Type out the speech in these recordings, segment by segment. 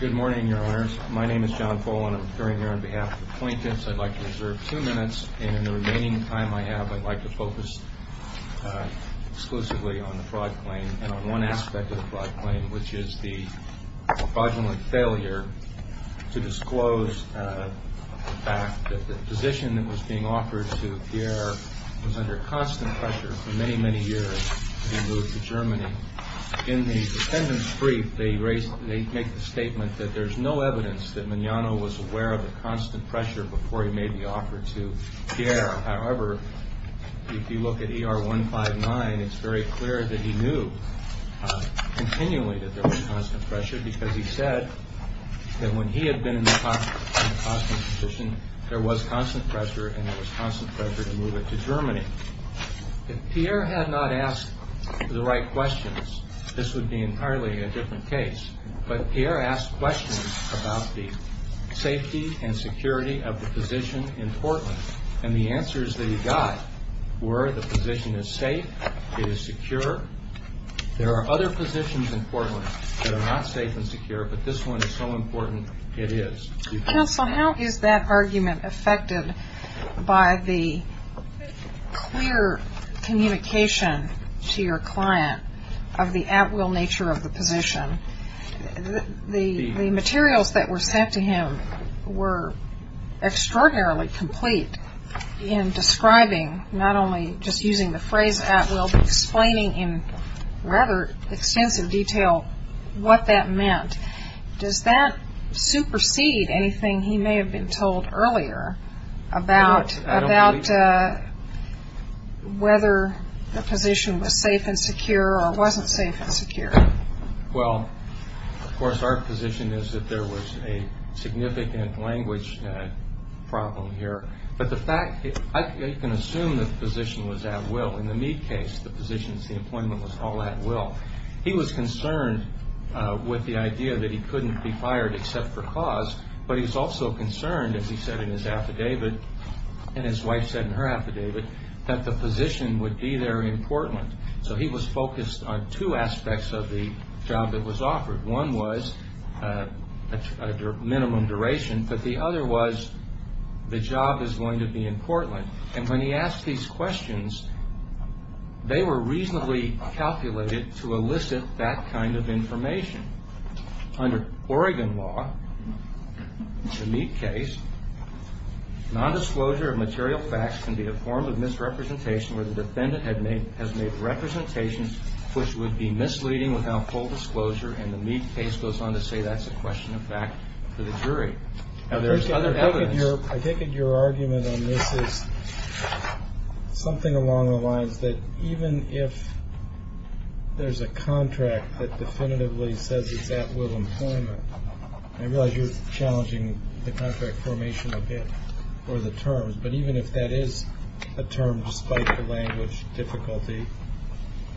Good morning, Your Honors. My name is John Fole, and I'm appearing here on behalf of the plaintiffs. I'd like to reserve two minutes, and in the remaining time I have, I'd like to focus exclusively on the fraud claim and on one aspect of the fraud claim, which is the fraudulent failure to disclose the fact that the position that was being offered to Pierre was under constant pressure for many, many years to be moved to Germany. In the defendant's brief, they make the statement that there's no evidence that Mignano was aware of the constant pressure before he made the offer to Pierre. However, if you look at ER 159, it's very clear that he knew continually that there was constant pressure because he said that when he had been in the constant position, there was constant pressure and there was constant pressure to move it to Germany. If Pierre had not asked the right questions, this would be entirely a different case. But Pierre asked questions about the safety and security of the position in Portland, and the answers that he got were the position is safe, it is secure. There are other positions in Portland that are not safe and secure, but this one is so important, it is. Counsel, how is that argument affected by the clear communication to your client of the at-will nature of the position? The materials that were sent to him were extraordinarily complete in describing, not only just using the phrase at-will, but explaining in rather extensive detail what that meant. Does that supersede anything he may have been told earlier about whether the position was safe and secure or wasn't safe and secure? Well, of course, our position is that there was a significant language problem here. But the fact, I can assume that the position was at-will. In the Meade case, the positions, the employment was all at-will. He was concerned with the idea that he couldn't be fired except for cause, but he was also concerned, as he said in his affidavit, and his wife said in her affidavit, that the position would be there in Portland. So he was focused on two aspects of the job that was offered. One was minimum duration, but the other was the job is going to be in Portland. And when he asked these questions, they were reasonably calculated to elicit that kind of information. Under Oregon law, the Meade case, nondisclosure of material facts can be a form of misrepresentation where the defendant has made representations which would be misleading without full disclosure, and the Meade case goes on to say that's a question of fact for the jury. I take it your argument on this is something along the lines that even if there's a contract that definitively says it's at-will employment, I realize you're challenging the contract formation a bit or the terms, but even if that is a term despite the language difficulty,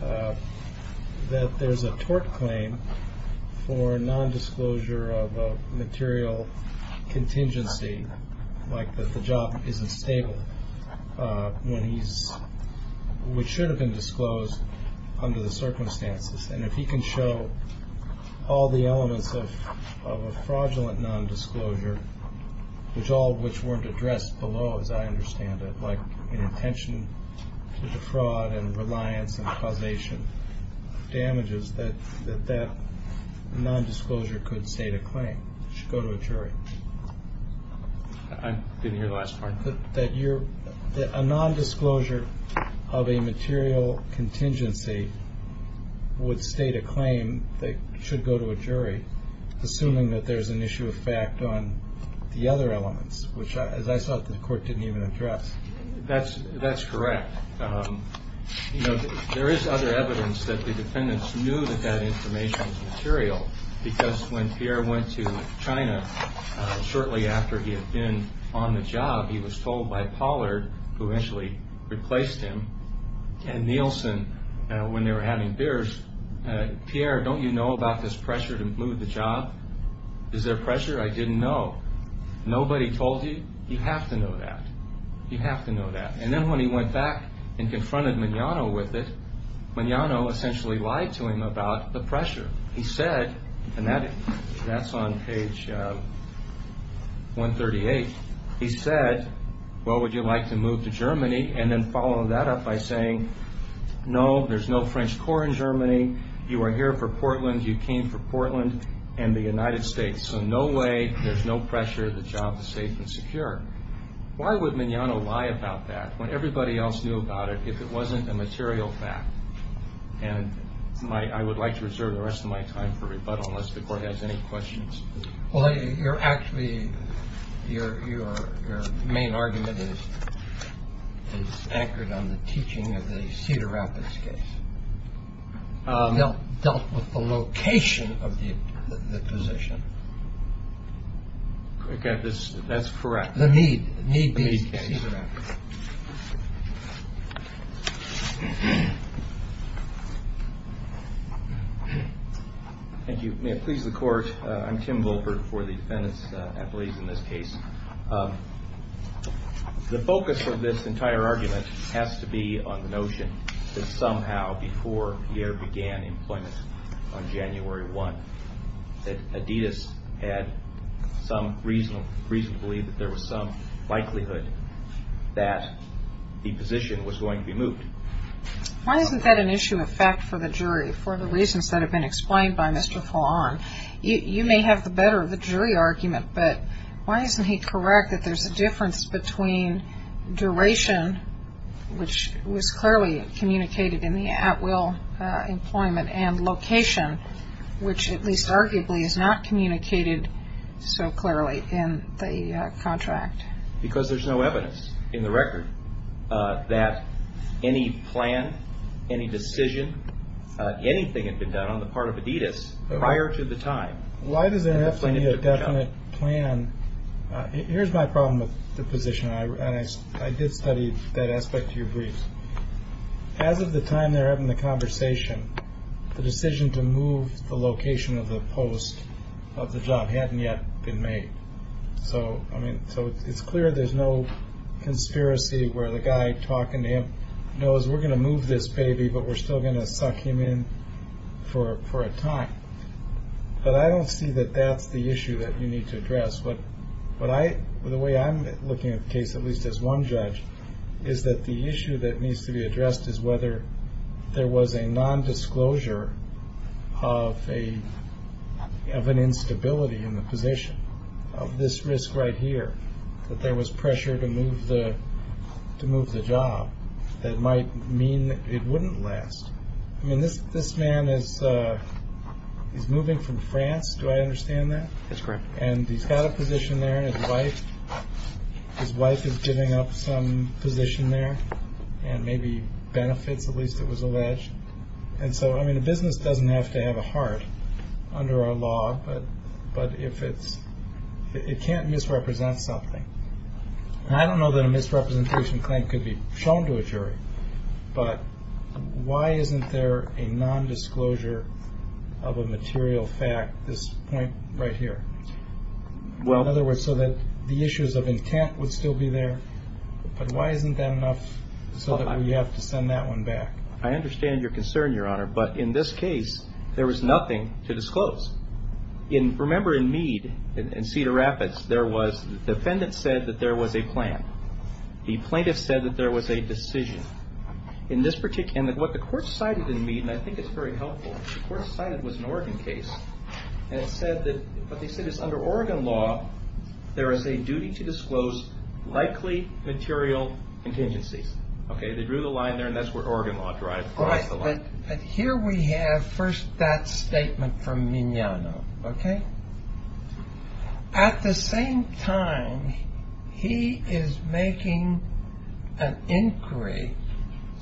that there's a tort claim for nondisclosure of a material contingency, like that the job isn't stable, which should have been disclosed under the circumstances, and if he can show all the elements of a fraudulent nondisclosure, which all of which weren't addressed below, as I understand it, like an intention to defraud and reliance and causation of damages, that that nondisclosure could state a claim, should go to a jury. I didn't hear the last part. That a nondisclosure of a material contingency would state a claim that should go to a jury, assuming that there's an issue of fact on the other elements, which, as I saw it, the court didn't even address. That's correct. There is other evidence that the defendants knew that that information was material because when Pierre went to China shortly after he had been on the job, he was told by Pollard, who eventually replaced him, and Nielsen, when they were having beers, Pierre, don't you know about this pressure to move the job? Is there pressure? I didn't know. Nobody told you? You have to know that. You have to know that. And then when he went back and confronted Mignano with it, Mignano essentially lied to him about the pressure. He said, and that's on page 138, he said, well, would you like to move to Germany? And then follow that up by saying, no, there's no French Corps in Germany, you are here for Portland, you came for Portland and the United States, so no way, there's no pressure, the job is safe and secure. Why would Mignano lie about that when everybody else knew about it if it wasn't a material fact? And I would like to reserve the rest of my time for rebuttal unless the court has any questions. Well, you're actually your main argument is anchored on the teaching of the Cedar Rapids case. They dealt with the location of the position. That's correct. The need, the need. Thank you. May it please the court. I'm Tim Wilford for the defendants, at least in this case. The focus of this entire argument has to be on the notion that somehow before Pierre began employment on January 1, that Adidas had some reason to believe that there was some likelihood that the position was going to be moved. Why isn't that an issue of fact for the jury for the reasons that have been explained by Mr. Follon? You may have the better of a jury argument, but why isn't he correct that there's a difference between duration, which was clearly communicated in the at-will employment, and location, which at least arguably is not communicated so clearly in the contract? Because there's no evidence in the record that any plan, any decision, anything had been done on the part of Adidas prior to the time. Why does there have to be a definite plan? Here's my problem with the position. I did study that aspect of your brief. As of the time they're having the conversation, the decision to move the location of the post of the job hadn't yet been made. So it's clear there's no conspiracy where the guy talking to him knows we're going to move this baby, but we're still going to suck him in for a time. But I don't see that that's the issue that you need to address. The way I'm looking at the case, at least as one judge, is that the issue that needs to be addressed is whether there was a nondisclosure of an instability in the position. Of this risk right here, that there was pressure to move the job that might mean it wouldn't last. I mean, this man is moving from France. Do I understand that? That's correct. And he's got a position there. His wife is giving up some position there and maybe benefits, at least it was alleged. And so, I mean, a business doesn't have to have a heart under our law. But it can't misrepresent something. And I don't know that a misrepresentation claim could be shown to a jury, but why isn't there a nondisclosure of a material fact, this point right here? In other words, so that the issues of intent would still be there, but why isn't that enough so that we have to send that one back? I understand your concern, Your Honor, but in this case, there was nothing to disclose. Remember, in Meade and Cedar Rapids, the defendant said that there was a plan. The plaintiff said that there was a decision. And what the court cited in Meade, and I think it's very helpful, the court cited was an Oregon case, and it said that what they said is under Oregon law, there is a duty to disclose likely material contingencies. Okay, they drew the line there, and that's where Oregon law drives the line. But here we have first that statement from Mignano, okay? At the same time, he is making an inquiry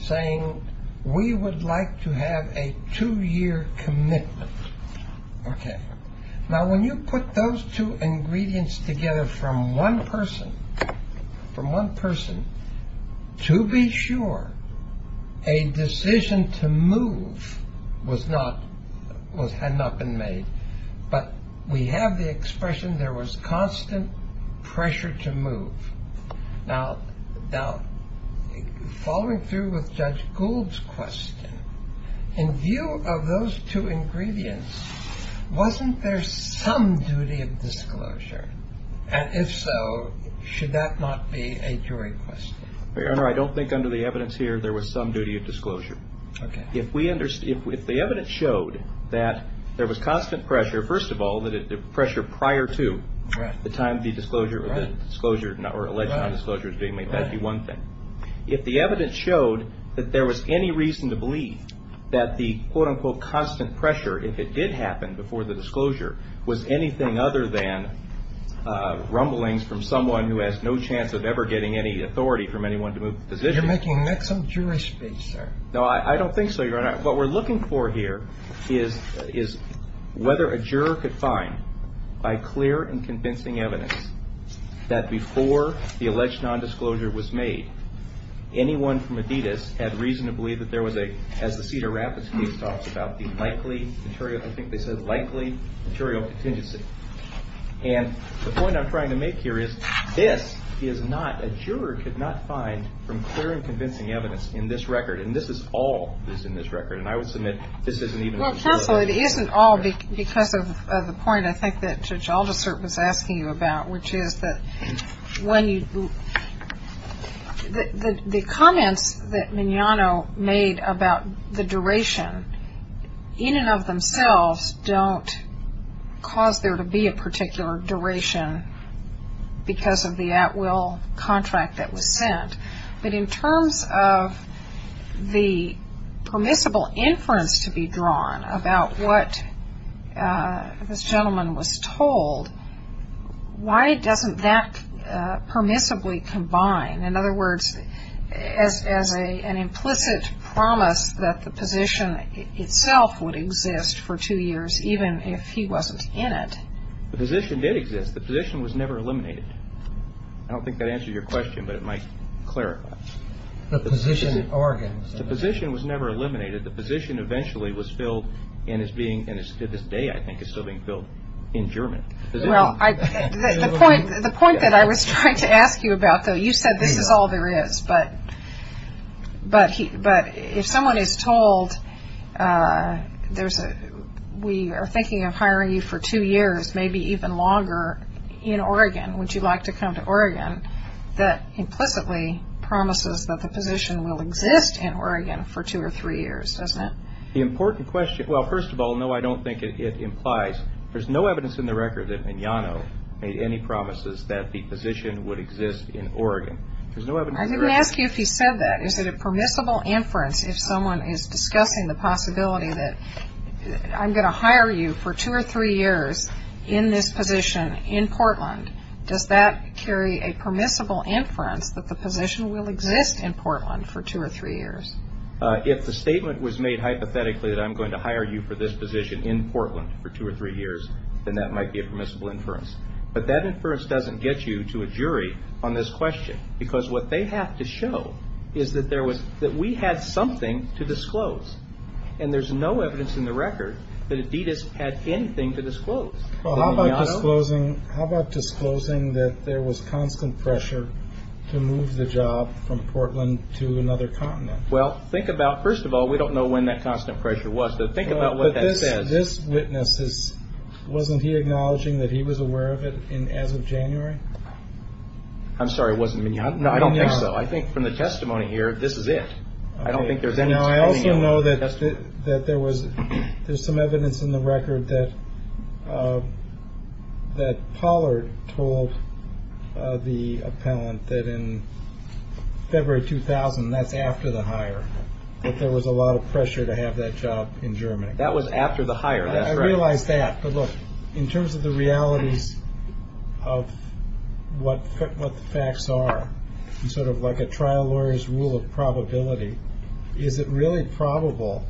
saying we would like to have a two-year commitment. Okay. Now, when you put those two ingredients together from one person, from one person, to be sure a decision to move had not been made, but we have the expression there was constant pressure to move. Now, following through with Judge Gould's question, in view of those two ingredients, wasn't there some duty of disclosure? And if so, should that not be a jury question? Your Honor, I don't think under the evidence here there was some duty of disclosure. Okay. If the evidence showed that there was constant pressure, first of all, that the pressure prior to the time of the disclosure or the alleged disclosure was being made, that would be one thing. If the evidence showed that there was any reason to believe that the, quote-unquote, constant pressure, if it did happen before the disclosure, was anything other than rumblings from someone who has no chance of ever getting any authority from anyone to move the position. You're making some jury speech, sir. No, I don't think so, Your Honor. What we're looking for here is whether a juror could find by clear and convincing evidence that before the alleged nondisclosure was made, anyone from Adidas had reason to believe that there was a, as the Cedar Rapids case talks about, the likely material, I think they said likely material contingency. And the point I'm trying to make here is this is not, a juror could not find from clear and convincing evidence in this record, and this is all that's in this record, and I would submit this isn't even. Well, counsel, it isn't all because of the point I think that Judge Aldersert was asking you about, which is that when you, the comments that Mignano made about the duration in and of themselves don't cause there to be a particular duration because of the at-will contract that was sent. But in terms of the permissible inference to be drawn about what this gentleman was told, why doesn't that permissibly combine, in other words, as an implicit promise that the position itself would exist for two years even if he wasn't in it? The position did exist. The position was never eliminated. I don't think that answers your question, but it might clarify. The position in Oregon. The position was never eliminated. The position eventually was filled and is being, to this day I think, is still being filled in German. Well, the point that I was trying to ask you about, though, you said this is all there is, but if someone is told we are thinking of hiring you for two years, maybe even longer, in Oregon, would you like to come to Oregon that implicitly promises that the position will exist in Oregon for two or three years, doesn't it? The important question, well, first of all, no, I don't think it implies. There's no evidence in the record that Mignano made any promises that the position would exist in Oregon. There's no evidence in the record. I didn't ask you if he said that. Is it a permissible inference if someone is discussing the possibility that I'm going to hire you for two or three years in this position in Portland, does that carry a permissible inference that the position will exist in Portland for two or three years? If the statement was made hypothetically that I'm going to hire you for this position in Portland for two or three years, then that might be a permissible inference. But that inference doesn't get you to a jury on this question, because what they have to show is that we had something to disclose, and there's no evidence in the record that Adidas had anything to disclose. Well, how about disclosing that there was constant pressure to move the job from Portland to another continent? Well, think about, first of all, we don't know when that constant pressure was, but think about what that says. But this witness, wasn't he acknowledging that he was aware of it as of January? I'm sorry, it wasn't Mignano? No, I don't think so. I think from the testimony here, this is it. I also know that there's some evidence in the record that Pollard told the appellant that in February 2000, that's after the hire, that there was a lot of pressure to have that job in Germany. That was after the hire, that's right. I realize that, but look, in terms of the realities of what the facts are, sort of like a trial lawyer's rule of probability, is it really probable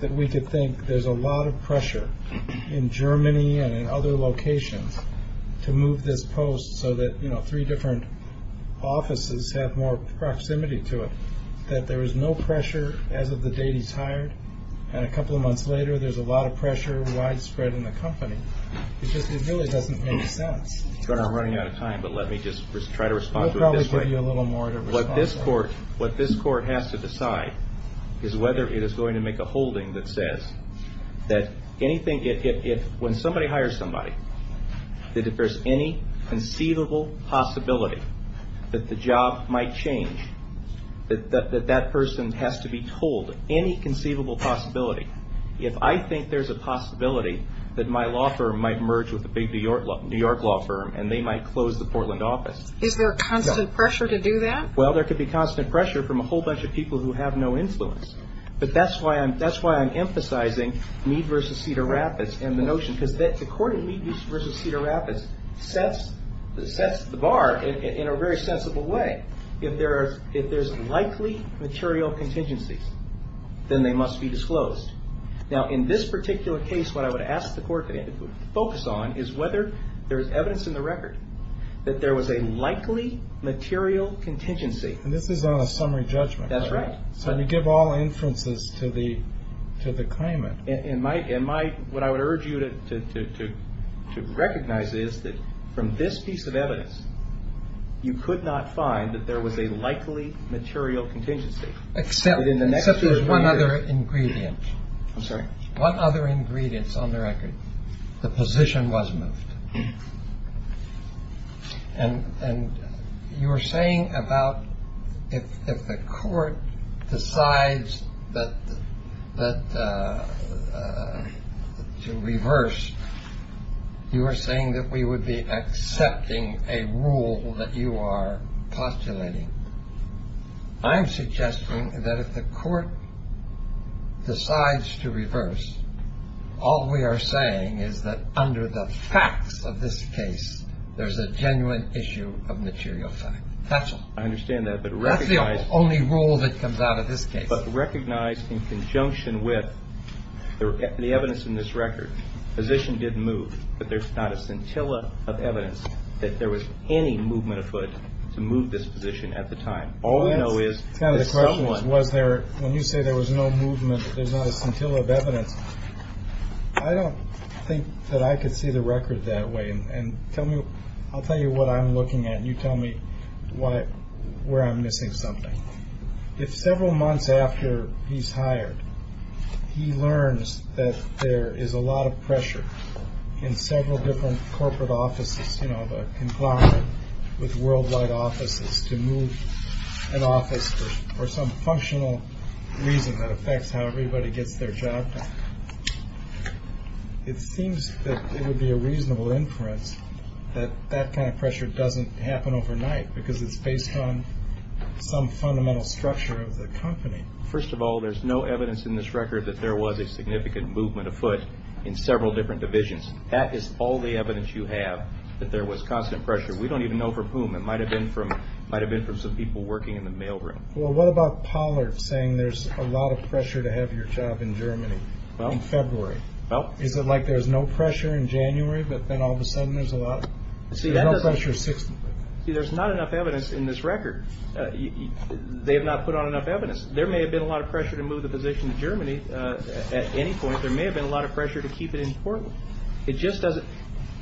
that we could think there's a lot of pressure in Germany and in other locations to move this post so that three different offices have more proximity to it, that there was no pressure as of the date he's hired, and a couple of months later there's a lot of pressure widespread in the company? It just really doesn't make sense. Sorry, I'm running out of time, but let me just try to respond to it this way. We'll probably give you a little more to respond to. What this court has to decide is whether it is going to make a holding that says that anything, when somebody hires somebody, that if there's any conceivable possibility that the job might change, that that person has to be told any conceivable possibility, if I think there's a possibility that my law firm might merge with a big New York law firm and they might close the Portland office. Is there constant pressure to do that? Well, there could be constant pressure from a whole bunch of people who have no influence, but that's why I'm emphasizing Meade v. Cedar Rapids and the notion, because the court in Meade v. Cedar Rapids sets the bar in a very sensible way. If there's likely material contingencies, then they must be disclosed. Now, in this particular case, what I would ask the court to focus on is whether there's evidence in the record that there was a likely material contingency. And this is on a summary judgment. That's right. So you give all inferences to the claimant. And what I would urge you to recognize is that from this piece of evidence, you could not find that there was a likely material contingency. Except there's one other ingredient. I'm sorry. One other ingredient on the record. The position was moved. And you were saying about if the court decides that to reverse, you were saying that we would be accepting a rule that you are postulating. I'm suggesting that if the court decides to reverse, all we are saying is that under the facts of this case, there's a genuine issue of material fact. That's all. I understand that. That's the only rule that comes out of this case. But recognize in conjunction with the evidence in this record, position didn't move. But there's not a scintilla of evidence that there was any movement of foot to move this position at the time. All we know is there was there. When you say there was no movement, there's not a scintilla of evidence. I don't think that I could see the record that way. And tell me, I'll tell you what I'm looking at. You tell me why, where I'm missing something. If several months after he's hired, he learns that there is a lot of pressure in several different corporate offices, you know, conglomerate with worldwide offices to move an office for some functional reason that affects how everybody gets their job. It seems that it would be a reasonable inference that that kind of pressure doesn't happen overnight because it's based on some fundamental structure of the company. First of all, there's no evidence in this record that there was a significant movement of foot in several different divisions. That is all the evidence you have that there was constant pressure. We don't even know from whom. It might have been from might have been from some people working in the mailroom. Well, what about Pollard saying there's a lot of pressure to have your job in Germany in February? Well, is it like there's no pressure in January, but then all of a sudden there's a lot of pressure. See, there's not enough evidence in this record. They have not put on enough evidence. There may have been a lot of pressure to move the position to Germany at any point. There may have been a lot of pressure to keep it in Portland. It just doesn't.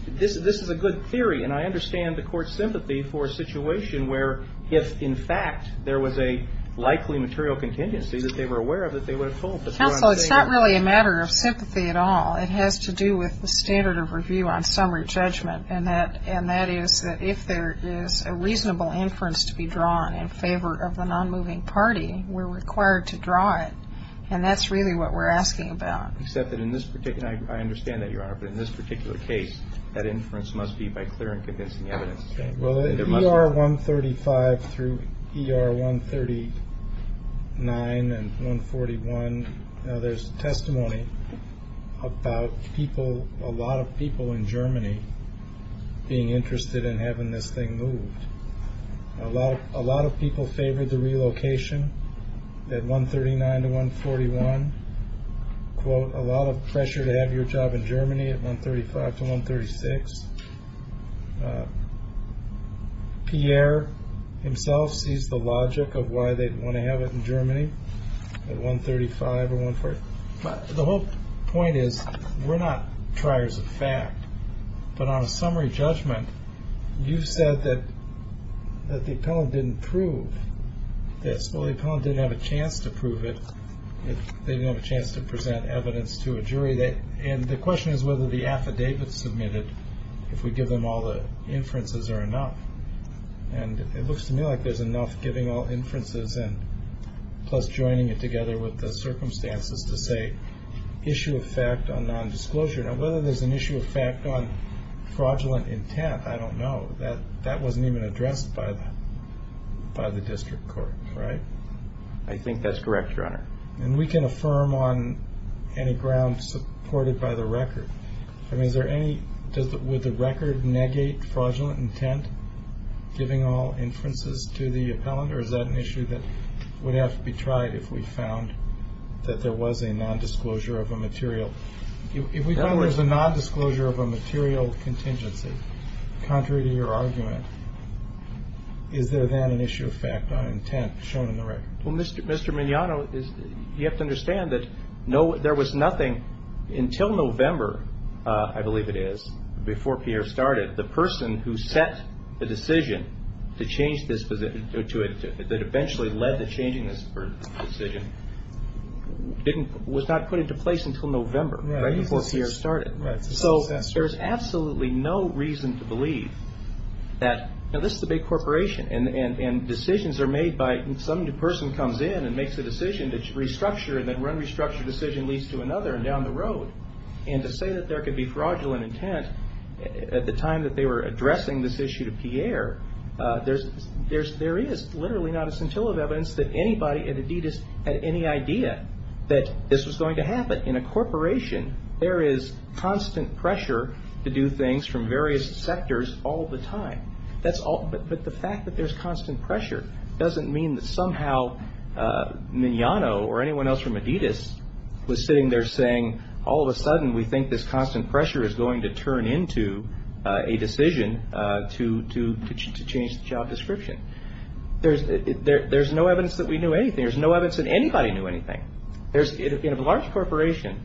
This is a good theory, and I understand the court's sympathy for a situation where if, in fact, there was a likely material contingency that they were aware of that they would have told. Counsel, it's not really a matter of sympathy at all. It has to do with the standard of review on summary judgment. And that is that if there is a reasonable inference to be drawn in favor of the nonmoving party, we're required to draw it. And that's really what we're asking about. Except that in this particular – I understand that, Your Honor, but in this particular case that inference must be by clear and convincing evidence. Well, ER 135 through ER 139 and 141, there's testimony about people, a lot of people in Germany being interested in having this thing moved. A lot of people favored the relocation at 139 to 141. Quote, a lot of pressure to have your job in Germany at 135 to 136. Pierre himself sees the logic of why they'd want to have it in Germany at 135 or 141. The whole point is we're not triers of fact, but on a summary judgment, you've said that the appellant didn't prove this. Well, the appellant didn't have a chance to prove it. They didn't have a chance to present evidence to a jury. And the question is whether the affidavit submitted, if we give them all the inferences, are enough. And it looks to me like there's enough giving all inferences plus joining it together with the circumstances to say issue of fact on nondisclosure. Now, whether there's an issue of fact on fraudulent intent, I don't know. That wasn't even addressed by the district court, right? I think that's correct, Your Honor. And we can affirm on any ground supported by the record. I mean, would the record negate fraudulent intent, giving all inferences to the appellant, or is that an issue that would have to be tried if we found that there was a nondisclosure of a material? If we found there was a nondisclosure of a material contingency, contrary to your argument, is there then an issue of fact on intent shown in the record? Well, Mr. Mignano, you have to understand that there was nothing until November, I believe it is, before Pierre started, the person who set the decision to change this position, that eventually led to changing this decision, was not put into place until November, right, before Pierre started. So there's absolutely no reason to believe that, you know, this is a big corporation, and decisions are made by some new person comes in and makes a decision to restructure, and then one restructured decision leads to another down the road. And to say that there could be fraudulent intent at the time that they were addressing this issue to Pierre, there is literally not a scintilla of evidence that anybody at Adidas had any idea that this was going to happen. In a corporation, there is constant pressure to do things from various sectors all the time. But the fact that there's constant pressure doesn't mean that somehow Mignano or anyone else from Adidas was sitting there saying all of a sudden we think this constant pressure is going to turn into a decision to change the job description. There's no evidence that we knew anything. There's no evidence that anybody knew anything. In a large corporation,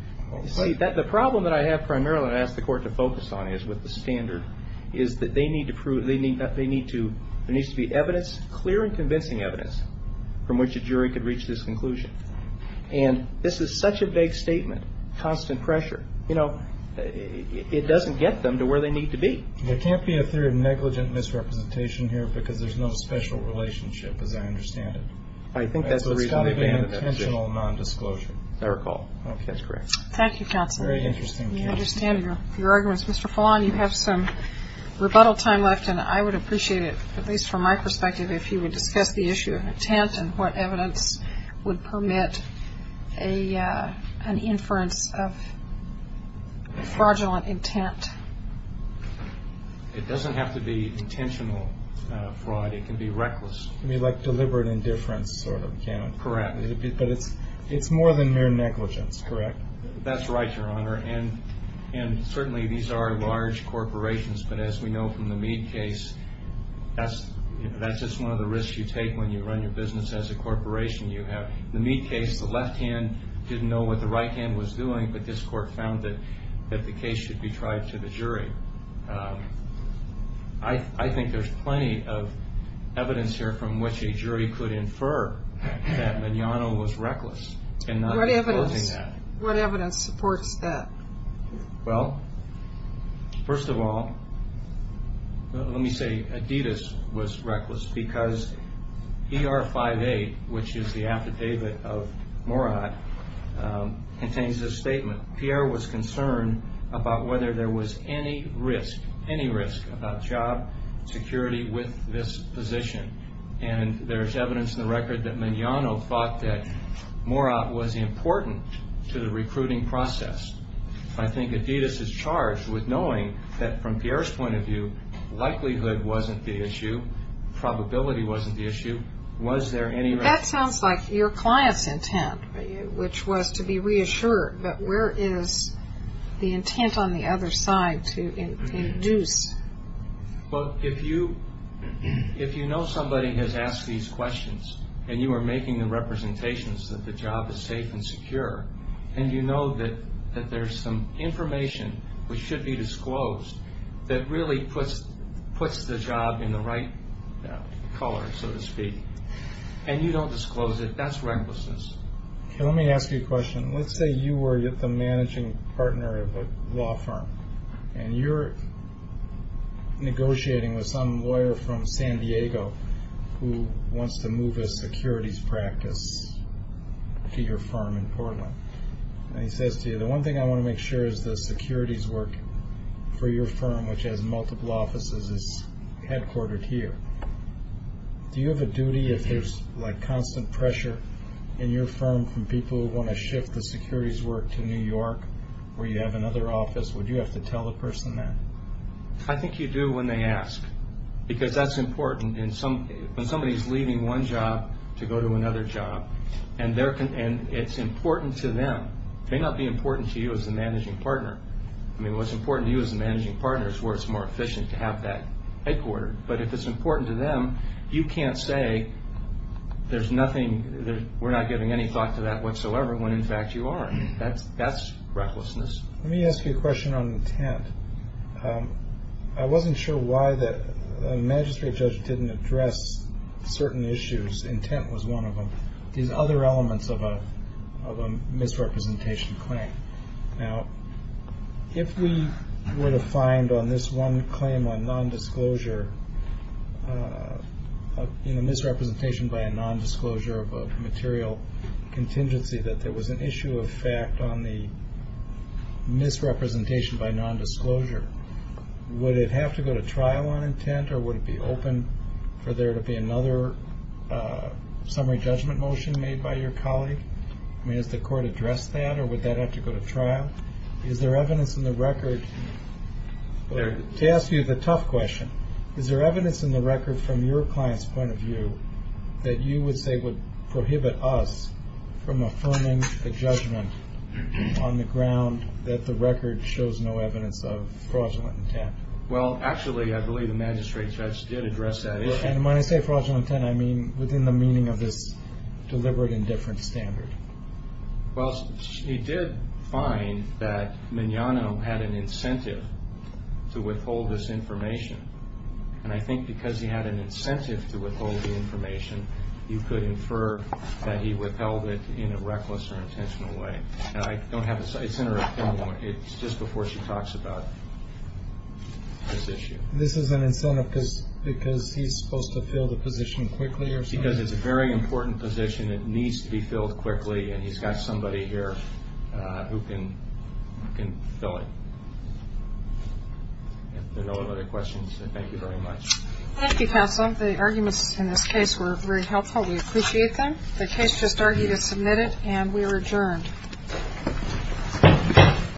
see, the problem that I have primarily and ask the court to focus on is with the standard, is that there needs to be evidence, clear and convincing evidence, from which a jury could reach this conclusion. And this is such a vague statement, constant pressure, you know, it doesn't get them to where they need to be. There can't be a theory of negligent misrepresentation here because there's no special relationship, as I understand it. I think that's the reason. It's got to be intentional non-disclosure. Fair call. Okay, that's correct. Thank you, counsel. Very interesting. I understand your arguments. Mr. Fallon, you have some rebuttal time left, and I would appreciate it, at least from my perspective, if you would discuss the issue of intent and what evidence would permit an inference of fraudulent intent. It doesn't have to be intentional fraud. It can be reckless. You mean like deliberate indifference sort of? Correct. But it's more than mere negligence, correct? That's right, Your Honor. And certainly these are large corporations, but as we know from the Meade case, that's just one of the risks you take when you run your business as a corporation. You have the Meade case, the left hand didn't know what the right hand was doing, but this court found that the case should be tried to the jury. I think there's plenty of evidence here from which a jury could infer that Mignano was reckless. What evidence supports that? Well, first of all, let me say Adidas was reckless because ER-58, which is the affidavit of Mourad, contains a statement. Pierre was concerned about whether there was any risk, any risk, about job security with this position. And there's evidence in the record that Mignano thought that Mourad was important to the recruiting process. I think Adidas is charged with knowing that from Pierre's point of view, likelihood wasn't the issue, probability wasn't the issue. Was there any risk? That sounds like your client's intent, which was to be reassured, but where is the intent on the other side to induce? Well, if you know somebody has asked these questions and you are making the representations that the job is safe and secure and you know that there's some information which should be disclosed that really puts the job in the right color, so to speak, and you don't disclose it, that's recklessness. Let me ask you a question. Let's say you were the managing partner of a law firm and you're negotiating with some lawyer from San Diego who wants to move a securities practice to your firm in Portland. And he says to you, the one thing I want to make sure is the securities work for your firm, which has multiple offices, is headquartered here. Do you have a duty if there's, like, constant pressure in your firm from people who want to shift the securities work to New York where you have another office, would you have to tell the person that? I think you do when they ask, because that's important. When somebody is leaving one job to go to another job, and it's important to them, it may not be important to you as the managing partner. I mean, what's important to you as the managing partner is where it's more efficient to have that headquartered. But if it's important to them, you can't say there's nothing, we're not giving any thought to that whatsoever when, in fact, you are. That's recklessness. Let me ask you a question on intent. I wasn't sure why the magistrate judge didn't address certain issues, intent was one of them, these other elements of a misrepresentation claim. Now, if we were to find on this one claim on nondisclosure, misrepresentation by a nondisclosure of a material contingency, that there was an issue of fact on the misrepresentation by nondisclosure, would it have to go to trial on intent, or would it be open for there to be another summary judgment motion made by your colleague? I mean, has the court addressed that, or would that have to go to trial? Is there evidence in the record? To ask you the tough question, is there evidence in the record from your client's point of view that you would say would prohibit us from affirming a judgment on the ground that the record shows no evidence of fraudulent intent? Well, actually, I believe the magistrate judge did address that issue. And when I say fraudulent intent, I mean within the meaning of this deliberate indifference standard. Well, he did find that Mignano had an incentive to withhold this information, and I think because he had an incentive to withhold the information, you could infer that he withheld it in a reckless or intentional way. And I don't have a site center at the moment. It's just before she talks about this issue. This is an incentive because he's supposed to fill the position quickly or something? Because it's a very important position. It needs to be filled quickly, and he's got somebody here who can fill it. If there are no other questions, then thank you very much. Thank you, counsel. The arguments in this case were very helpful. We appreciate them. The case just argued is submitted, and we are adjourned.